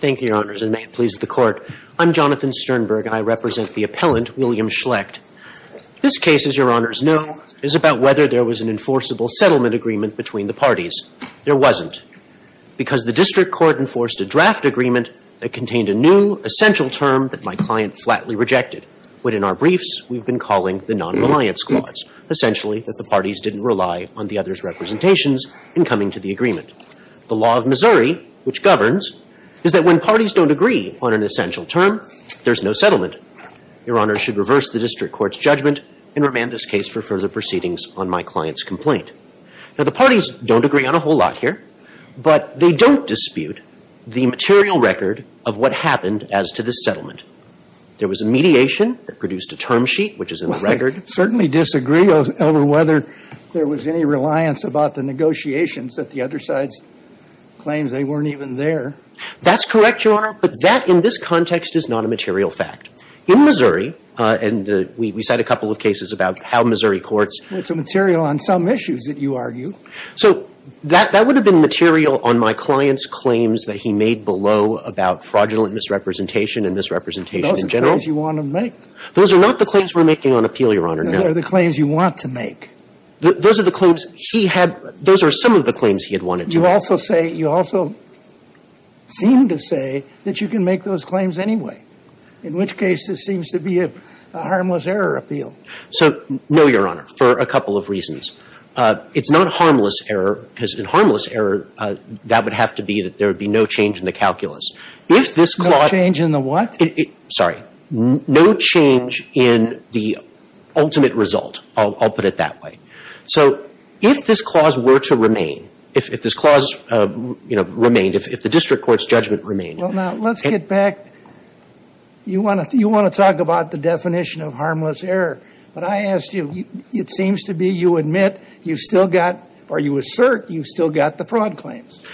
Thank you, Your Honors, and may it please the Court. I'm Jonathan Sternberg and I represent the appellant, William Schlecht. This case, as Your Honors know, is about whether there was an enforceable settlement agreement between the parties. There wasn't, because the district court enforced a draft agreement that contained a new, essential term that my client flatly rejected, what in our briefs we've been calling the non-reliance clause, essentially that the parties didn't rely on the other's representations in coming to the agreement. The law of Missouri, which governs, is that when parties don't agree on an essential term, there's no settlement. Your Honors should reverse the district court's judgment and remand this case for further proceedings on my client's complaint. Now, the parties don't agree on a whole lot here, but they don't dispute the material record of what happened as to this settlement. There was a mediation that produced a term sheet, which is in the record. I would certainly disagree over whether there was any reliance about the negotiations that the other side's claims, they weren't even there. That's correct, Your Honor, but that, in this context, is not a material fact. In Missouri, and we cite a couple of cases about how Missouri courts. It's a material on some issues that you argue. So that would have been material on my client's claims that he made below about fraudulent misrepresentation and misrepresentation in general. Those are claims you want to make. Those are not the claims we're making on appeal, Your Honor. Those are the claims you want to make. Those are the claims he had – those are some of the claims he had wanted to make. You also say – you also seem to say that you can make those claims anyway, in which case this seems to be a harmless error appeal. So, no, Your Honor, for a couple of reasons. It's not harmless error, because in harmless error, that would have to be that there would be no change in the calculus. If this clause – No change in the what? Sorry. No change in the ultimate result. I'll put it that way. So, if this clause were to remain, if this clause, you know, remained, if the district court's judgment remained – Well, now, let's get back – you want to talk about the definition of harmless error, but I asked you – it seems to be you admit you've still got – or you assert you've still got the fraud claims.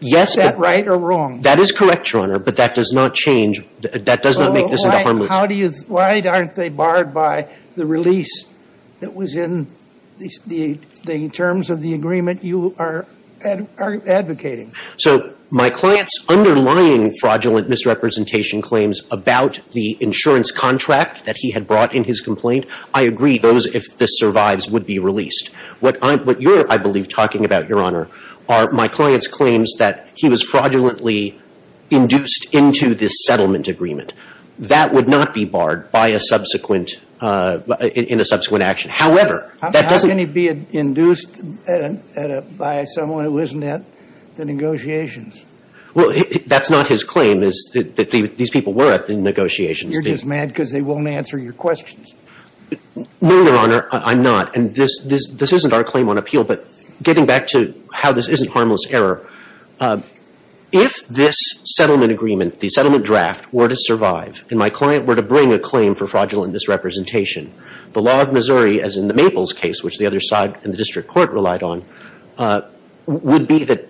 Yes, but – Is that right or wrong? That is correct, Your Honor, but that does not change – that does not make this into harmless – How do you – why aren't they barred by the release that was in the terms of the agreement you are advocating? So, my client's underlying fraudulent misrepresentation claims about the insurance contract that he had brought in his complaint, I agree those, if this survives, would be released. What I'm – what you're, I believe, talking about, Your Honor, are my client's claims that he was fraudulently induced into this settlement agreement. That would not be barred by a subsequent – in a subsequent action. However, that doesn't – How can he be induced at a – by someone who isn't at the negotiations? Well, that's not his claim, is that these people were at the negotiations. You're just mad because they won't answer your questions. No, Your Honor, I'm not. And this isn't our claim on appeal, but getting back to how this isn't harmless error, if this settlement agreement, the settlement draft, were to survive and my client were to bring a claim for fraudulent misrepresentation, the law of Missouri, as in the Maples case, which the other side in the district court relied on, would be that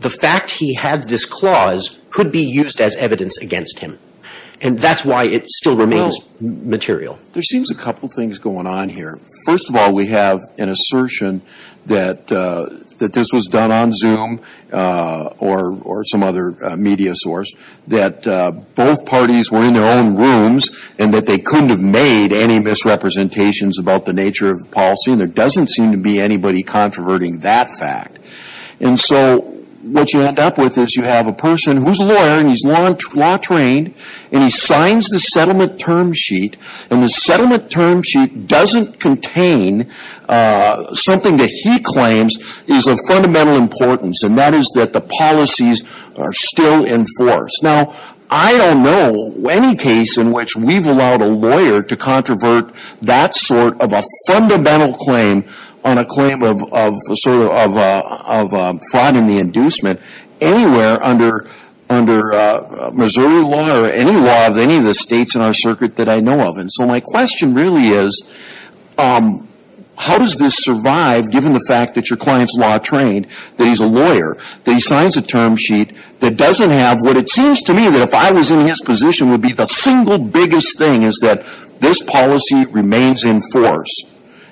the fact he had this clause could be used as evidence against him. And that's why it still remains material. There seems a couple things going on here. First of all, we have an assertion that this was done on Zoom or some other media source, that both parties were in their own rooms and that they couldn't have made any misrepresentations about the nature of the policy, and there doesn't seem to be anybody controverting that fact. And so what you end up with is you have a person who's a lawyer and he's law trained, and he signs the settlement term sheet, and the settlement term sheet doesn't contain something that he claims is of fundamental importance, and that is that the policies are still in force. Now, I don't know any case in which we've allowed a lawyer to controvert that sort of a fundamental claim on a claim of fraud and the inducement anywhere under Missouri law or any law of any of the states in our circuit that I know of. And so my question really is, how does this survive given the fact that your client's law trained, that he's a lawyer, that he signs a term sheet that doesn't have what it seems to me that if I was in his position would be the single biggest thing is that this policy remains in force.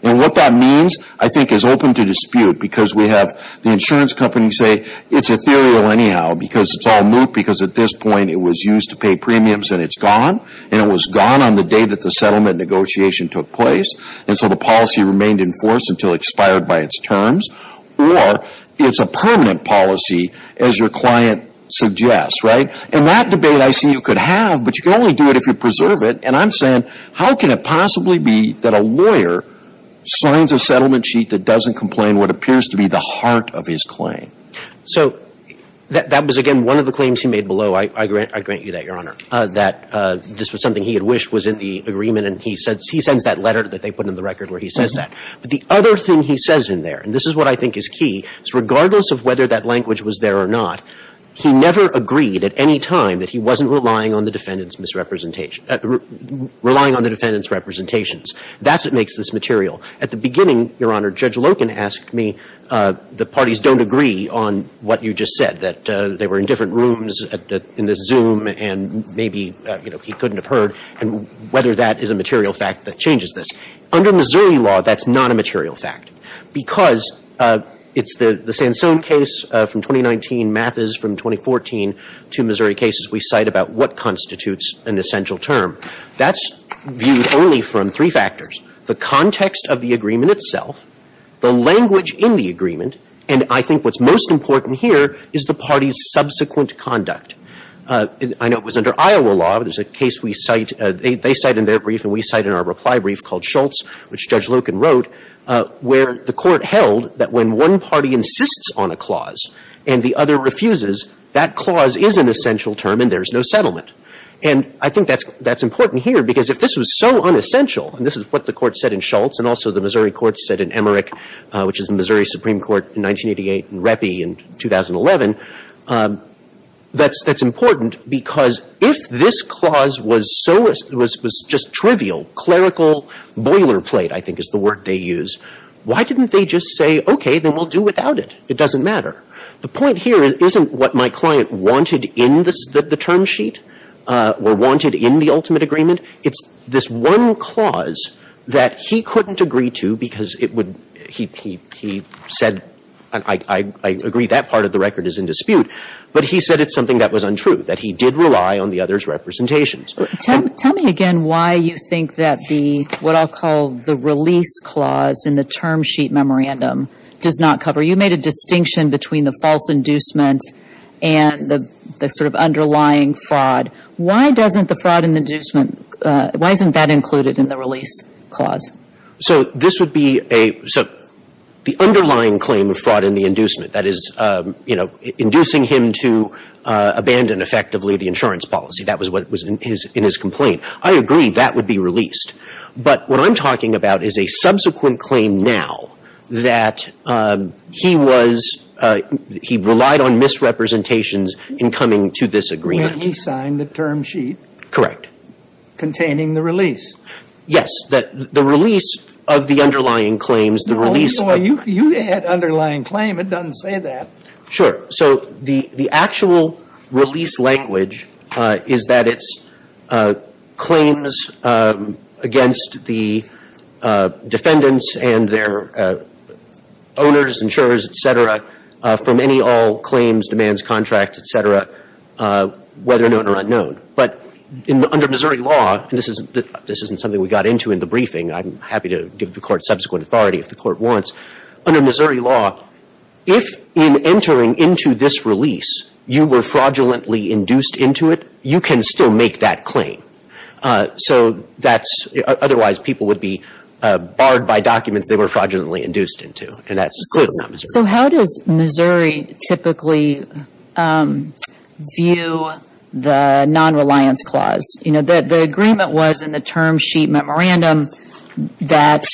And what that means, I think, is open to dispute because we have the insurance company say it's ethereal anyhow because it's all moot because at this point it was used to pay premiums and it's gone, and it was gone on the day that the settlement negotiation took place, and so the policy remained in force until expired by its terms, or it's a permanent policy as your client suggests, right? And that debate I see you could have, but you can only do it if you preserve it. And I'm saying, how can it possibly be that a lawyer signs a settlement sheet that doesn't complain what appears to be the heart of his claim? So that was, again, one of the claims he made below. I grant you that, Your Honor, that this was something he had wished was in the agreement, and he sends that letter that they put in the record where he says that. But the other thing he says in there, and this is what I think is key, is regardless of whether that language was there or not, he never agreed at any time that he wasn't relying on the defendant's misrepresentation – relying on the defendant's representations. That's what makes this material. At the beginning, Your Honor, Judge Loken asked me, the parties don't agree that they don't agree on what you just said, that they were in different rooms in the Zoom, and maybe, you know, he couldn't have heard, and whether that is a material fact that changes this. Under Missouri law, that's not a material fact, because it's the Sansone case from 2019, Mathis from 2014, two Missouri cases we cite about what constitutes an essential term. That's viewed only from three factors, the context of the agreement itself, the language in the agreement, and I think what's most important here is the party's subsequent conduct. I know it was under Iowa law, there's a case we cite – they cite in their brief and we cite in our reply brief called Schultz, which Judge Loken wrote, where the Court held that when one party insists on a clause and the other refuses, that clause is an essential term and there's no settlement. And I think that's important here, because if this was so unessential, and this is what the Court said in Schultz, and also the Missouri Court said in Emmerich, which is the Missouri Supreme Court in 1988, and Reppy in 2011, that's important, because if this clause was so – was just trivial, clerical boilerplate, I think is the word they use, why didn't they just say, okay, then we'll do without it, it doesn't matter? The point here isn't what my client wanted in the term sheet, or wanted in the ultimate agreement, it's this one clause that he couldn't agree to because it would – he said, I agree that part of the record is in dispute, but he said it's something that was untrue, that he did rely on the other's representations. Tell me again why you think that the – what I'll call the release clause in the term sheet memorandum does not cover – you made a distinction between the false inducement and the sort of underlying fraud. Why doesn't the fraud and inducement – why isn't that included in the release clause? So this would be a – so the underlying claim of fraud and the inducement, that is, you know, inducing him to abandon effectively the insurance policy, that was what was in his complaint. I agree that would be released. But what I'm talking about is a subsequent claim now, that he was – he relied on misrepresentations in coming to this agreement. And he signed the term sheet? Correct. Containing the release? Yes. That the release of the underlying claims, the release – No, no, you had underlying claim. It doesn't say that. Sure. So the actual release language is that it's claims against the defendants and their owners, insurers, et cetera, for many all claims, demands, contracts, et cetera, whether known or unknown. But under Missouri law – and this isn't something we got into in the briefing. I'm happy to give the Court subsequent authority if the Court wants. Under Missouri law, if in entering into this release you were fraudulently induced into it, you can still make that claim. So that's – otherwise people would be barred by documents they were fraudulently induced into. And that's clearly not Missouri law. So how does Missouri typically view the nonreliance clause? You know, the agreement was in the term sheet memorandum that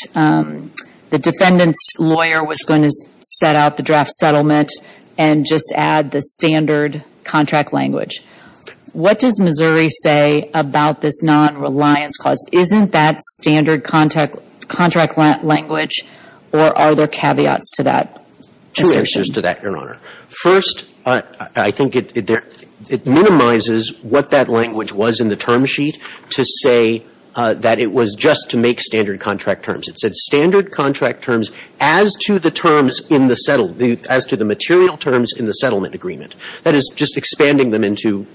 the defendant's lawyer was going to set out the draft settlement and just add the standard contract language. What does Missouri say about this nonreliance clause? Isn't that standard contract language, or are there caveats to that assertion? Two answers to that, Your Honor. First, I think it minimizes what that language was in the term sheet to say that it was just to make standard contract terms. It said standard contract terms as to the terms in the settled – as to the material terms in the settlement agreement. That is just expanding them into,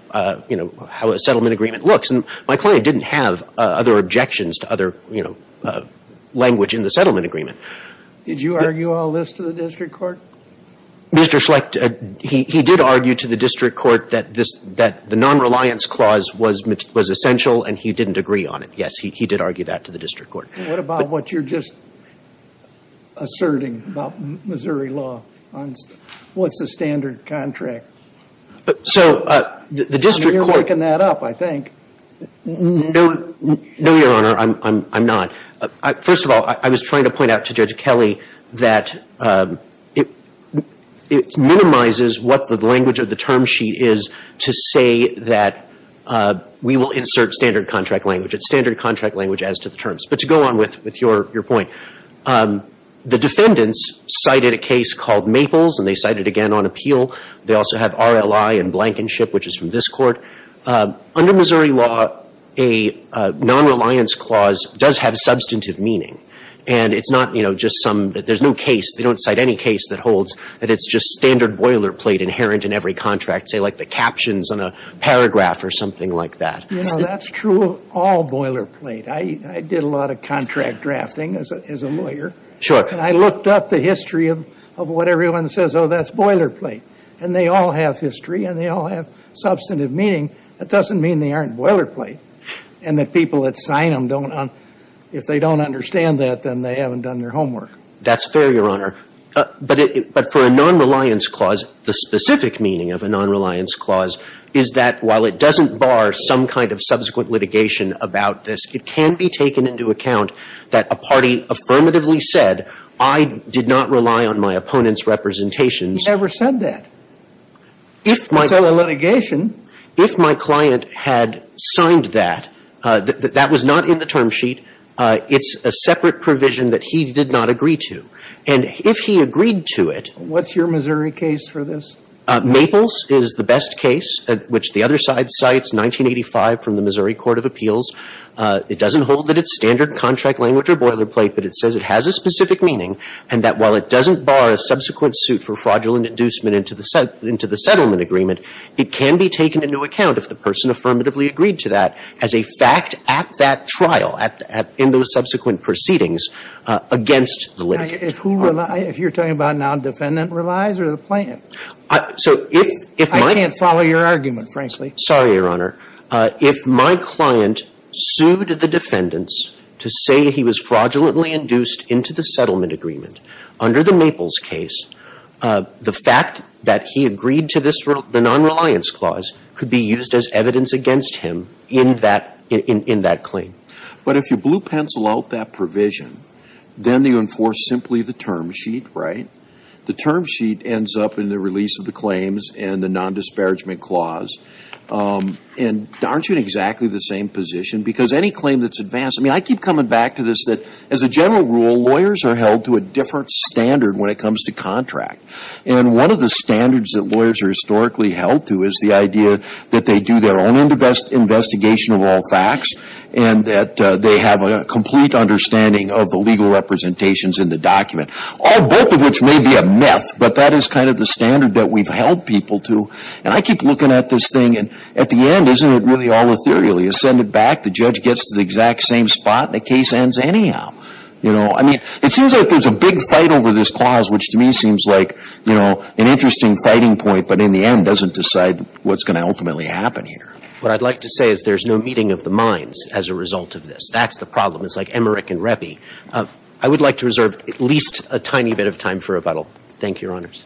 you know, how a settlement agreement looks. And my client didn't have other objections to other, you know, language in the settlement agreement. Did you argue all this to the district court? Mr. Schlicht, he did argue to the district court that this – that the nonreliance clause was essential, and he didn't agree on it. Yes, he did argue that to the district court. And what about what you're just asserting about Missouri law on what's the standard contract? So, the district court – I know you're making that up, I think. No, Your Honor, I'm not. First of all, I was trying to point out to Judge Kelley that it minimizes what the language of the term sheet is to say that we will insert standard contract language. It's standard contract language as to the terms. But to go on with your point, the defendants cited a case called Maples, and they cited again on appeal. They also have R.L.I. and Blankenship, which is from this Court. Under Missouri law, a nonreliance clause does have substantive meaning. And it's not, you know, just some – there's no case – they don't cite any case that holds that it's just standard boilerplate inherent in every contract, say, like the captions on a paragraph or something like that. You know, that's true of all boilerplate. I did a lot of contract drafting as a lawyer. Sure. And I looked up the history of what everyone says, oh, that's boilerplate. And they all have history, and they all have substantive meaning. That doesn't mean they aren't boilerplate. And the people that sign them don't – if they don't understand that, then they haven't done their homework. That's fair, Your Honor. But for a nonreliance clause, the specific meaning of a nonreliance clause is that while it doesn't bar some kind of subsequent litigation about this, it can be taken into account that a party affirmatively said, I did not rely on my opponent's representations. You never said that. If my – It's not a litigation. If my client had signed that, that was not in the term sheet. It's a separate provision that he did not agree to. And if he agreed to it – What's your Missouri case for this? Maples is the best case, which the other side cites, 1985 from the Missouri Court of Appeals. It doesn't hold that it's standard contract language or boilerplate, but it says it has a specific meaning and that while it doesn't bar a subsequent suit for fraudulent inducement into the settlement agreement, it can be taken into account if the person affirmatively agreed to that as a fact at that trial, in those subsequent proceedings, against the litigant. Now, if who relies – if you're talking about now defendant relies or the plaintiff? So if my – I can't follow your argument, frankly. Sorry, Your Honor. If my client sued the defendants to say he was fraudulently induced into the settlement agreement, under the Maples case, the fact that he agreed to this – the nonreliance clause could be used as evidence against him in that – in that claim. But if you blue pencil out that provision, then you enforce simply the term sheet, right? The term sheet ends up in the release of the claims and the nondisparagement clause. And aren't you in exactly the same position? Because any claim that's advanced – I mean, I keep coming back to this, that as a general rule, lawyers are held to a different standard when it comes to contract. And one of the standards that lawyers are historically held to is the idea that they do their own investigation of all facts and that they have a complete understanding of the legal representations in the document. All – both of which may be a myth, but that is kind of the standard that we've held people to. And I keep looking at this thing, and at the end, isn't it really all ethereally? You know, the case ends anyhow. You know, I mean, it seems like there's a big fight over this clause, which to me seems like, you know, an interesting fighting point, but in the end doesn't decide what's going to ultimately happen here. What I'd like to say is there's no meeting of the minds as a result of this. That's the problem. It's like Emmerich and Reppy. I would like to reserve at least a tiny bit of time for rebuttal. Thank you, Your Honors.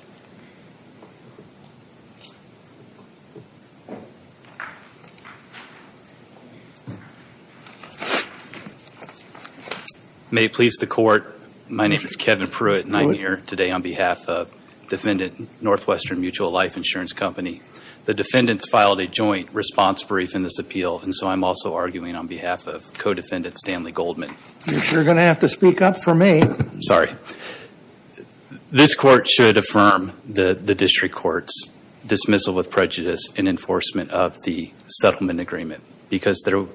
May it please the Court, my name is Kevin Pruitt, and I'm here today on behalf of Defendant Northwestern Mutual Life Insurance Company. The defendants filed a joint response brief in this appeal, and so I'm also arguing on behalf of co-defendant Stanley Goldman. You're going to have to speak up for me. Sorry. This court should affirm the district court's dismissal with prejudice in enforcement of the settlement agreement, because the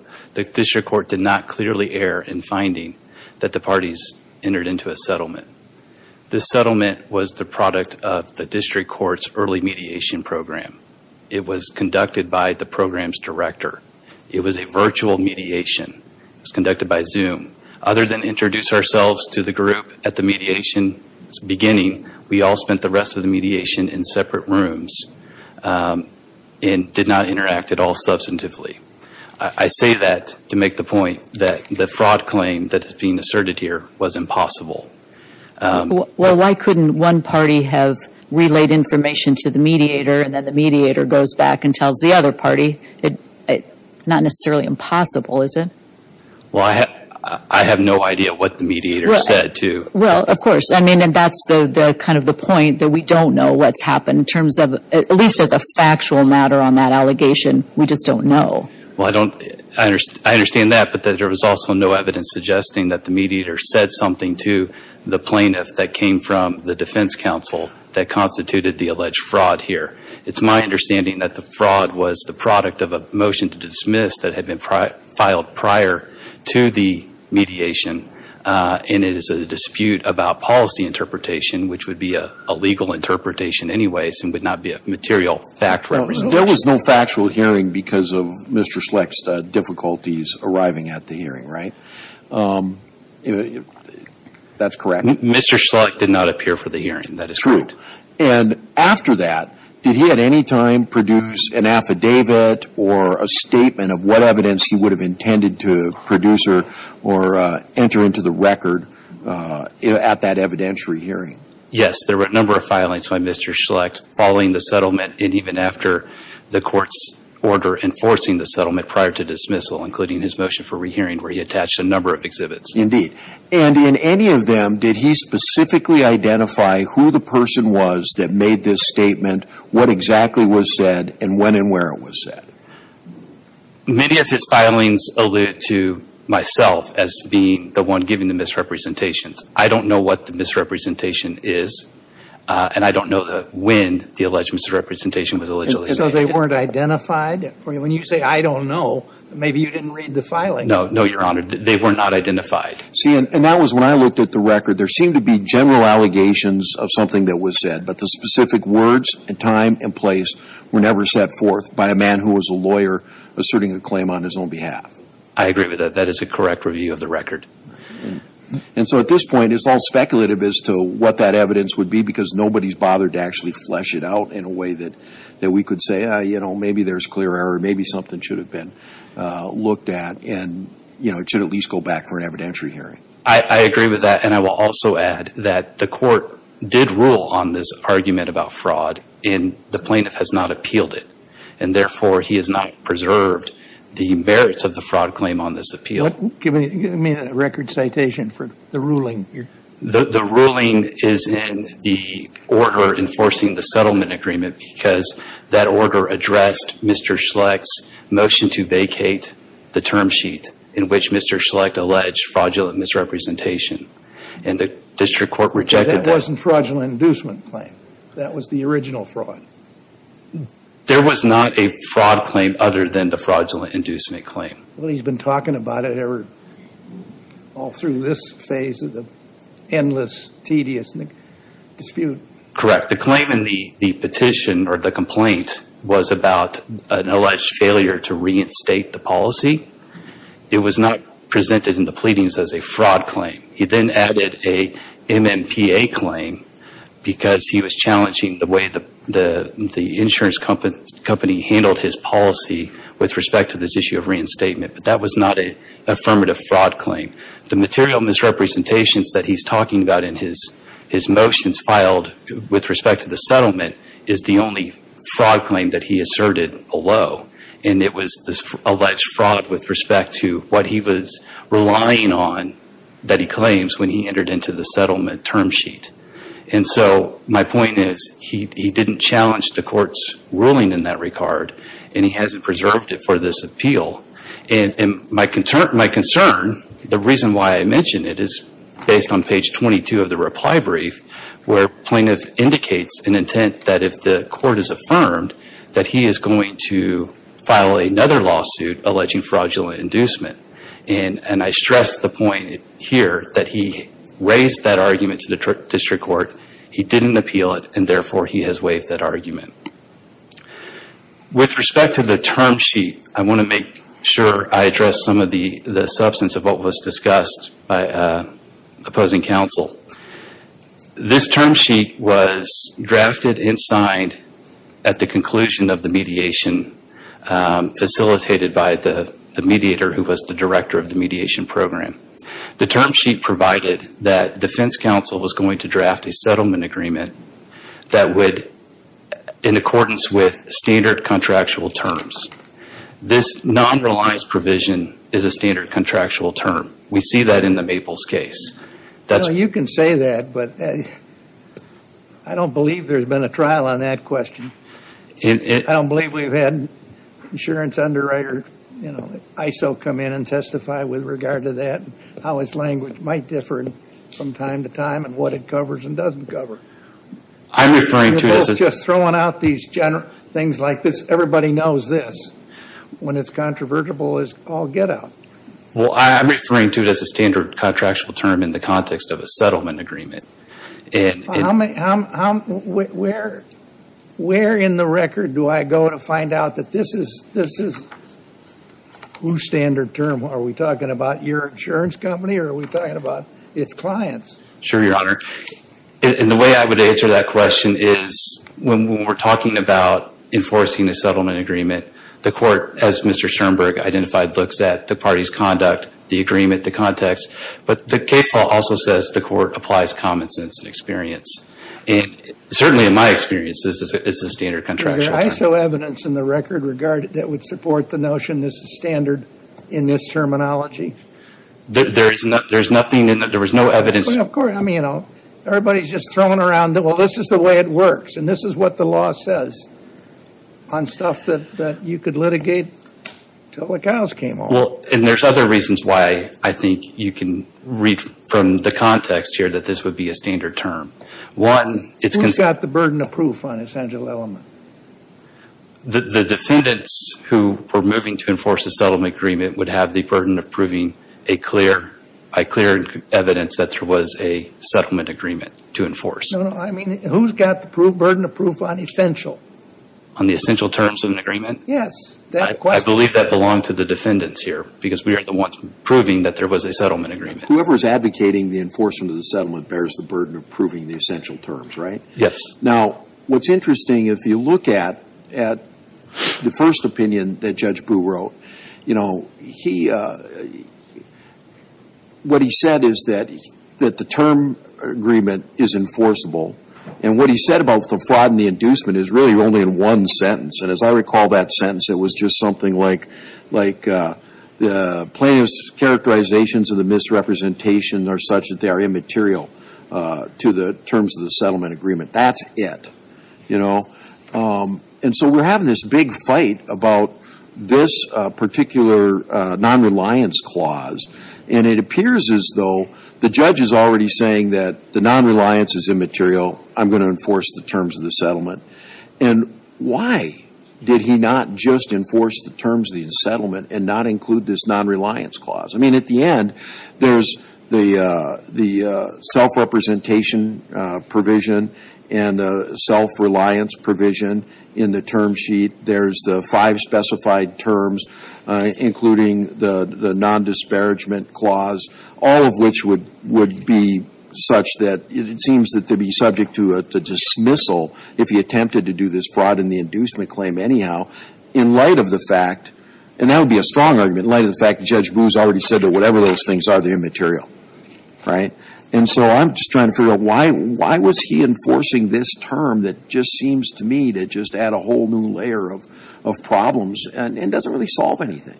district court did not clearly err in finding that the parties entered into a settlement. This settlement was the product of the district court's early mediation program. It was conducted by the program's director. It was a virtual mediation. It was conducted by Zoom. Other than introduce ourselves to the group at the mediation's beginning, we all spent the rest of the mediation in separate rooms and did not interact at all substantively. I say that to make the point that the fraud claim that is being asserted here was impossible. Well, why couldn't one party have relayed information to the mediator and then the mediator goes back and tells the other party? It's not necessarily impossible, is it? Well, I have no idea what the mediator said to- Well, of course. I mean, and that's the kind of the point that we don't know what's happened in terms of, at least as a factual matter on that allegation, we just don't know. Well, I understand that, but there was also no evidence suggesting that the mediator said something to the plaintiff that came from the defense counsel that constituted the alleged fraud here. It's my understanding that the fraud was the product of a motion to dismiss that had been filed prior to the mediation, and it is a dispute about policy interpretation, which would be a legal interpretation anyways and would not be a material fact representation. There was no factual hearing because of Mr. Schlecht's difficulties arriving at the hearing, right? That's correct? Mr. Schlecht did not appear for the hearing. That is correct. And after that, did he at any time produce an affidavit or a statement of what evidence he would have intended to produce or enter into the record at that evidentiary hearing? Yes, there were a number of filings by Mr. Schlecht following the settlement and even after the court's order enforcing the settlement prior to dismissal, including his motion for rehearing where he attached a number of exhibits. Indeed. And in any of them, did he specifically identify who the person was that made this statement, what exactly was said, and when and where it was said? Many of his filings allude to myself as being the one giving the misrepresentations. I don't know what the misrepresentation is, and I don't know when the alleged misrepresentation was allegedly made. And so they weren't identified? When you say, I don't know, maybe you didn't read the filings. No, no, Your Honor. They were not identified. See, and that was when I looked at the record. There seemed to be general allegations of something that was said, but the specific words and time and place were never set forth by a man who was a lawyer asserting a claim on his own behalf. I agree with that. That is a correct review of the record. And so at this point, it's all speculative as to what that evidence would be because nobody's bothered to actually flesh it out in a way that we could say, you know, maybe there's clear error, maybe something should have been looked at and, you know, it should at least go back for an evidentiary hearing. I agree with that, and I will also add that the Court did rule on this argument about fraud and the plaintiff has not appealed it. And therefore, he has not preserved the merits of the fraud claim on this appeal. Give me a record citation for the ruling. The ruling is in the order enforcing the settlement agreement because that order addressed Mr. Schlecht's motion to vacate the term sheet in which Mr. Schlecht alleged fraudulent misrepresentation, and the district court rejected that. That wasn't fraudulent inducement claim. That was the original fraud. There was not a fraud claim other than the fraudulent inducement claim. Well, he's been talking about it all through this phase of the endless, tedious dispute. Correct. The claim in the petition or the complaint was about an alleged failure to reinstate the policy. It was not presented in the pleadings as a fraud claim. He then added a MMPA claim because he was challenging the way the insurance company handled his policy with respect to this issue of reinstatement, but that was not an affirmative fraud claim. The material misrepresentations that he's talking about in his motions filed with respect to the settlement is the only fraud claim that he asserted below, and it was this alleged fraud with respect to what he was relying on that he claims when he entered into the settlement term sheet. My point is he didn't challenge the court's ruling in that regard, and he hasn't preserved it for this appeal. And my concern, the reason why I mention it is based on page 22 of the reply brief where plaintiff indicates an intent that if the court is affirmed that he is going to file another lawsuit alleging fraudulent inducement. And I stress the point here that he raised that argument to the district court. He didn't appeal it, and therefore he has waived that argument. With respect to the term sheet, I want to make sure I address some of the substance of what was discussed by opposing counsel. This term sheet was drafted and signed at the conclusion of the mediation facilitated by the mediator who was the director of the mediation program. The term sheet provided that defense counsel was going to draft a settlement agreement that would, in accordance with standard contractual terms, this non-reliance provision is a standard contractual term. We see that in the Maples case. You can say that, but I don't believe there's been a trial on that question. I don't believe we've had insurance underwriter ISO come in and testify with regard to that and how its language might differ from time to time and what it covers and doesn't cover. You're both just throwing out these general things like this. Everybody knows this. When it's controversial, it's all get out. Well, I'm referring to it as a standard contractual term in the context of a settlement agreement. Where in the record do I go to find out that this is whose standard term? Are we talking about your insurance company or are we talking about its clients? Sure, Your Honor. And the way I would answer that question is when we're talking about enforcing a settlement agreement, the court, as Mr. Schoenberg identified, looks at the party's conduct, the agreement, the context, but the case law also says the court applies common sense and experience. And certainly in my experience, this is a standard contractual term. Is there ISO evidence in the record that would support the notion this is standard in this terminology? There's nothing in it. There was no evidence. Of course. I mean, you know, everybody's just throwing around, well, this is the way it works and this is what the law says on stuff that you could litigate until the cows came home. Well, and there's other reasons why I think you can read from the context here that this would be a standard term. One, it's Who's got the burden of proof on this essential element? The defendants who were moving to enforce a settlement agreement would have the burden of proving a clear evidence that there was a settlement agreement to enforce. No, no. I mean, who's got the burden of proof on essential? On the essential terms of an agreement? Yes. I believe that belonged to the defendants here because we are the ones proving that there was a settlement agreement. Whoever's advocating the enforcement of the settlement bears the burden of proving the essential terms, right? Yes. Now, what's interesting, if you look at the first opinion that Judge Boo wrote, you know, he, what he said is that the term agreement is enforceable. And what he said about the fraud and the inducement is really only in one sentence. And as I recall that sentence, it was just something like the plaintiff's characterizations of the misrepresentations are such that they are immaterial to the terms of the settlement agreement. That's it, you know. And so we're having this big fight about this particular non-reliance clause. And it appears as though the judge is already saying that the non-reliance is immaterial. I'm going to enforce the terms of the settlement. And why did he not just enforce the terms of the settlement and not include this non-reliance clause? I mean, at the end, there's the self-representation provision and the self-reliance provision in the term sheet. There's the five specified terms, including the non-disparagement clause, all of which would be such that it seems that they'd be subject to a dismissal if he attempted to do this fraud in the inducement claim anyhow. In light of the fact, and that would be a strong argument, in light of the fact that Judge Booz already said that whatever those things are, they're immaterial, right? And so I'm just trying to figure out, why was he enforcing this term that just seems to me to just add a whole new layer of problems and doesn't really solve anything?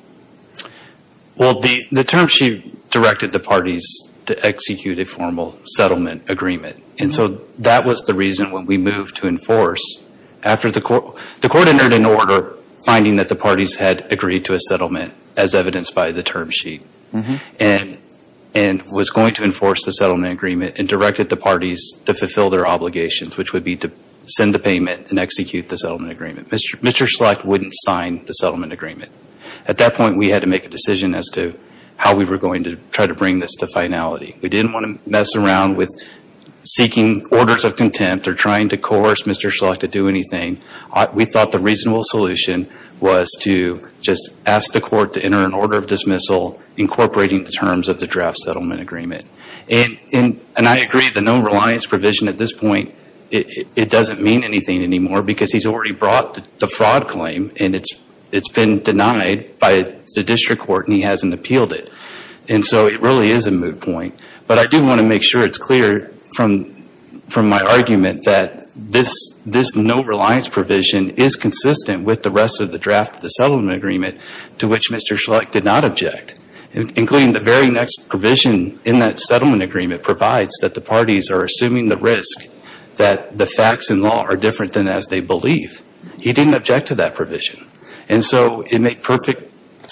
Well, the term sheet directed the parties to execute a formal settlement agreement. And so that was the reason when we moved to enforce. The court entered an order finding that the parties had agreed to a settlement, as evidenced by the term sheet, and was going to enforce the settlement agreement and directed the parties to fulfill their obligations, which would be to send a payment and execute the settlement agreement. Mr. Schlecht wouldn't sign the settlement agreement. At that point, we had to make a decision as to how we were going to try to bring this to finality. We didn't want to mess around with seeking orders of contempt or trying to coerce Mr. Schlecht to do anything. We thought the reasonable solution was to just ask the court to enter an order of dismissal incorporating the terms of the draft settlement agreement. And I agree, the no reliance provision at this point, it doesn't mean anything anymore because he's already brought the fraud claim and it's been denied by the district court and he hasn't appealed it. And so it really is a moot point. But I do want to make sure it's clear from my argument that this no reliance provision is consistent with the rest of the draft of the settlement agreement to which Mr. Schlecht did not object, including the very next provision in that settlement agreement provides that the parties are assuming the risk that the facts and law are different than as they believe. He didn't object to that provision. And so it made perfect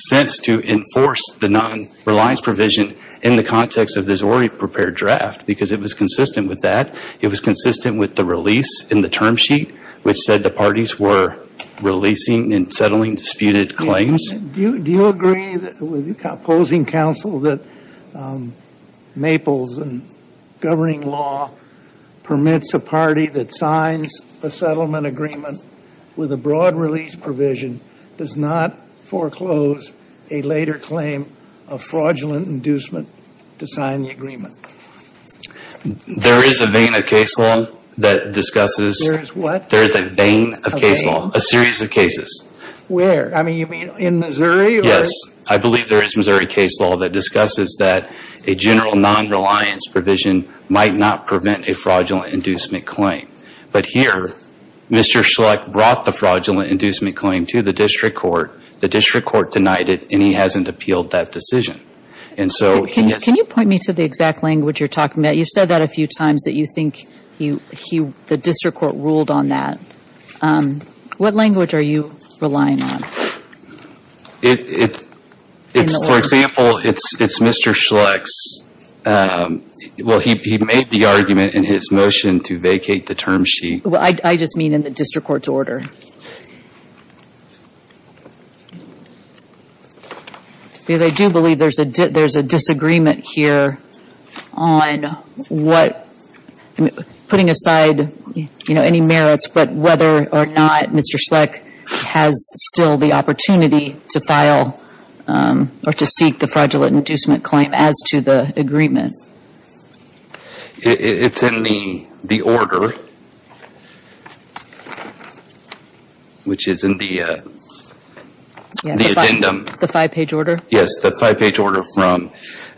sense to enforce the non reliance provision in the context of this already prepared draft because it was consistent with that. It was consistent with the release in the term sheet, which said the parties were releasing and settling disputed claims. Do you agree, posing counsel, that Maples and governing law permits a party that signs a settlement agreement with a broad release provision does not foreclose a later claim of fraudulent inducement to sign the agreement? There is a vein of case law that discusses... There is what? There is a vein of case law. A vein? A series of cases. Where? I mean, you mean in Missouri? Yes. I believe there is Missouri case law that discusses that a general non reliance provision might not prevent a fraudulent inducement claim. But here, Mr. Schlecht brought the fraudulent inducement claim to the district court, the district court denied it, and he hasn't appealed that decision. And so... Can you point me to the exact language you're talking about? You've said that a few times that you think the district court ruled on that. What language are you relying on? It's, for example, it's Mr. Schlecht's... I just mean in the district court's order. Because I do believe there's a disagreement here on what... Putting aside any merits, but whether or not Mr. Schlecht has still the opportunity to file or to seek the fraudulent inducement claim as to the agreement. It's in the order, which is in the addendum. The five page order? Yes. The five page order from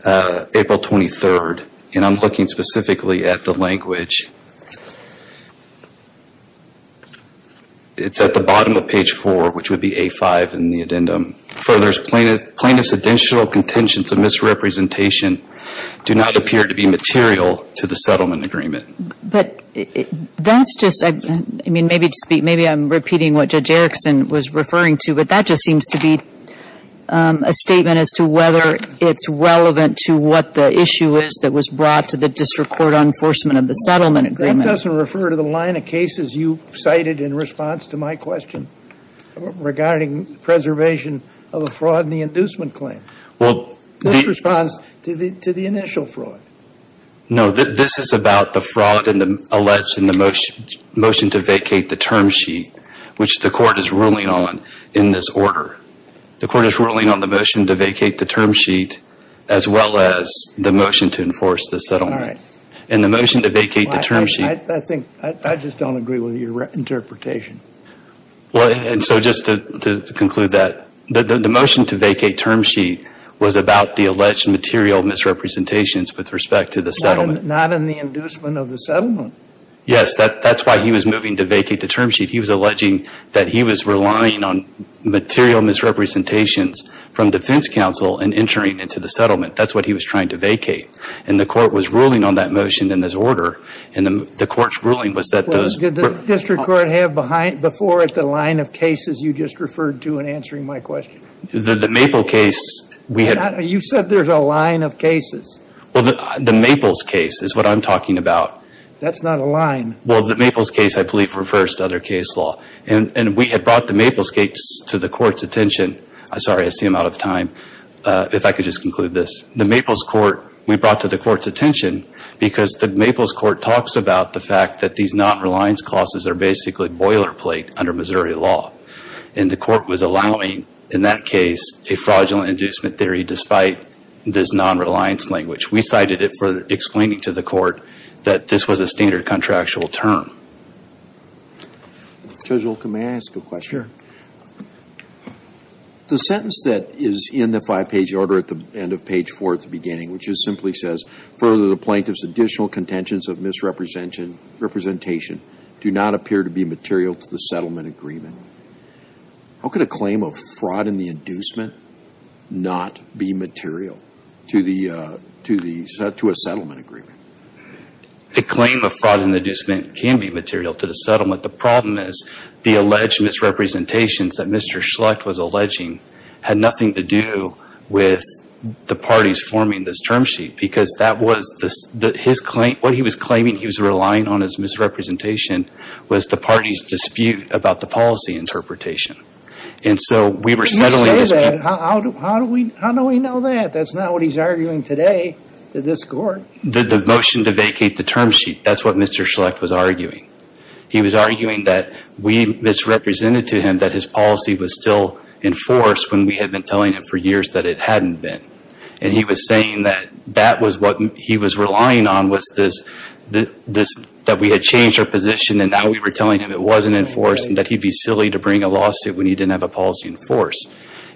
April 23rd, and I'm looking specifically at the language. It's at the bottom of page four, which would be A5 in the addendum, furthers plaintiff's additional contention to misrepresentation do not appear to be material to the settlement agreement. But that's just, I mean, maybe I'm repeating what Judge Erickson was referring to, but that just seems to be a statement as to whether it's relevant to what the issue is that was brought to the district court on enforcement of the settlement agreement. That doesn't refer to the line of cases you cited in response to my question regarding the preservation of a fraud in the inducement claim. Well, the... This responds to the initial fraud. No. This is about the fraud alleged in the motion to vacate the term sheet, which the court is ruling on in this order. The court is ruling on the motion to vacate the term sheet as well as the motion to enforce the settlement. All right. And the motion to vacate the term sheet... I think, I just don't agree with your interpretation. Well, and so just to conclude that, the motion to vacate term sheet was about the alleged material misrepresentations with respect to the settlement. Not in the inducement of the settlement. Yes. That's why he was moving to vacate the term sheet. He was alleging that he was relying on material misrepresentations from defense counsel in entering into the settlement. That's what he was trying to vacate. And the court was ruling on that motion in this order, and the court's ruling was that those... Did the district court have before it the line of cases you just referred to in answering my question? The Maple case, we had... You said there's a line of cases. Well, the Maples case is what I'm talking about. That's not a line. Well, the Maples case, I believe, refers to other case law. And we had brought the Maples case to the court's attention. I'm sorry. I see I'm out of time. If I could just conclude this. The Maples court, we brought to the court's attention because the Maples court talks about the fact that these non-reliance clauses are basically boilerplate under Missouri law. And the court was allowing, in that case, a fraudulent inducement theory despite this non-reliance language. We cited it for explaining to the court that this was a standard contractual term. Judge Olken, may I ask a question? The sentence that is in the five-page order at the end of page four at the beginning, which just simply says, further the plaintiff's additional contentions of misrepresentation do not appear to be material to the settlement agreement. How could a claim of fraud in the inducement not be material to a settlement agreement? A claim of fraud in the inducement can be material to the settlement. The problem is the alleged misrepresentations that Mr. Schlecht was alleging had nothing to do with the parties forming this term sheet. Because what he was claiming he was relying on as misrepresentation was the party's dispute about the policy interpretation. And so we were settling this. When you say that, how do we know that? That's not what he's arguing today to this court. The motion to vacate the term sheet, that's what Mr. Schlecht was arguing. He was arguing that we misrepresented to him that his policy was still in force when we had been telling him for years that it hadn't been. And he was saying that that was what he was relying on was this, that we had changed our position and now we were telling him it wasn't in force and that he'd be silly to bring a lawsuit when he didn't have a policy in force.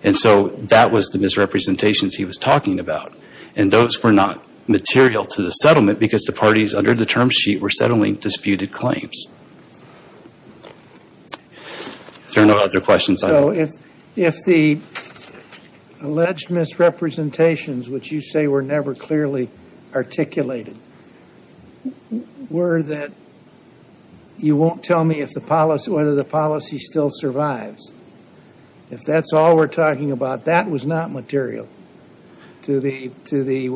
And so that was the misrepresentations he was talking about. And those were not material to the settlement because the parties under the term sheet were settling disputed claims. Are there no other questions? So if the alleged misrepresentations, which you say were never clearly articulated, were that you won't tell me if the policy, whether the policy still survives, if that's all we're talking about, that was not material to the, to the,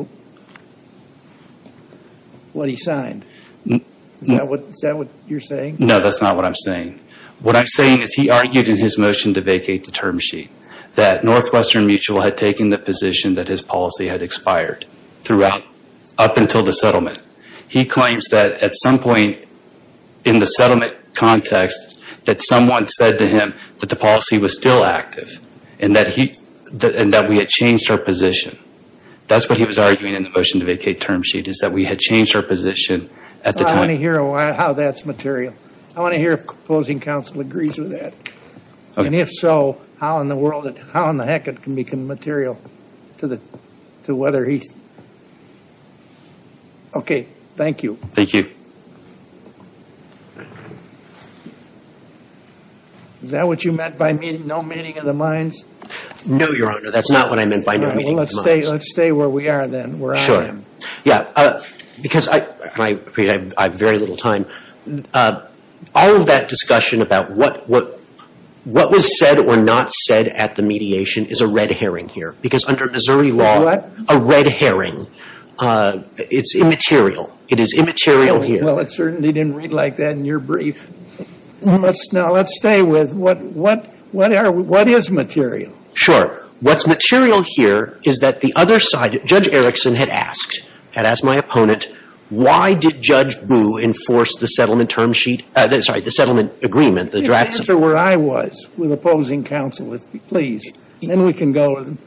what he signed. Is that what you're saying? No, that's not what I'm saying. What I'm saying is he argued in his motion to vacate the term sheet that Northwestern Mutual had taken the position that his policy had expired throughout, up until the settlement. He claims that at some point in the settlement context that someone said to him that the policy was still active and that he, and that we had changed our position. That's what he was arguing in the motion to vacate term sheet is that we had changed our position at the time. I want to hear how that's material. I want to hear if opposing counsel agrees with that and if so, how in the world, how in the heck it can become material to the, to whether he's, okay. Thank you. Thank you. Is that what you meant by meeting, no meeting of the minds? No, Your Honor. That's not what I meant by no meeting of the minds. Let's stay, let's stay where we are then, where I am. Sure. Yeah, because I, I have very little time. All of that discussion about what, what, what was said or not said at the mediation is a red herring here because under Missouri law, a red herring, it's immaterial. It is immaterial here. Well, it certainly didn't read like that in your brief. Let's, now let's stay with what, what, what are, what is material? Sure. What's material here is that the other side, Judge Erickson had asked, had asked my opponent, why did Judge Booe enforce the settlement term sheet, sorry, the settlement agreement, the drafts? Answer where I was with opposing counsel, please, then we can go to the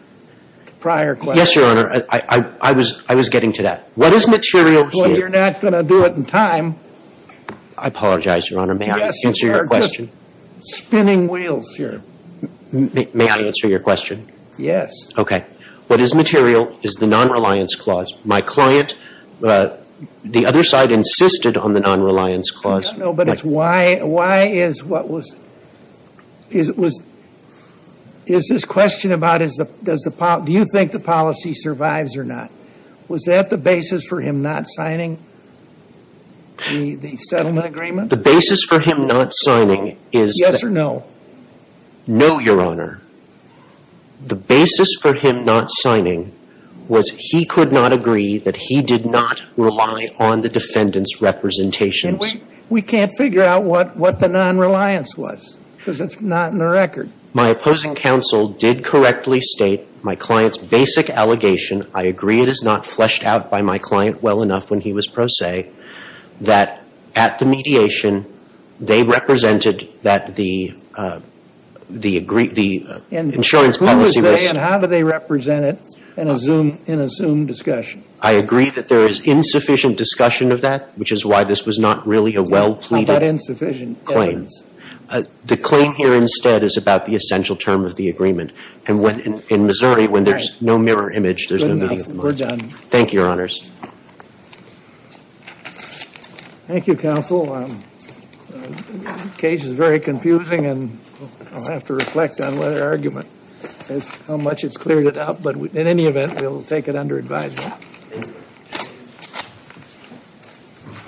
prior question. Yes, Your Honor, I, I, I was, I was getting to that. What is material here? Well, you're not going to do it in time. I apologize, Your Honor, may I answer your question? Yes, but we are just spinning wheels here. May I answer your question? Yes. Okay. What is material is the non-reliance clause. My client, the other side insisted on the non-reliance clause. I don't know, but it's why, why is what was, is, was, is this question about is the, does the, do you think the policy survives or not? Was that the basis for him not signing the, the settlement agreement? The basis for him not signing is that. Yes or no? No, Your Honor. The basis for him not signing was he could not agree that he did not rely on the defendant's representations. And we, we can't figure out what, what the non-reliance was because it's not in the record. My opposing counsel did correctly state my client's basic allegation, I agree it is not fleshed out by my client well enough when he was pro se, that at the mediation, they represented that the, the insurance policy was. And who was they and how do they represent it in a Zoom, in a Zoom discussion? I agree that there is insufficient discussion of that, which is why this was not really a well pleaded. How about insufficient evidence? The claim here instead is about the essential term of the agreement. And when, in Missouri, when there's no mirror image, there's no meaning of the word. Thank you, Your Honors. Thank you, Counsel. The case is very confusing and I'll have to reflect on whether argument is how much it's cleared it up. But in any event, we'll take it under advisory.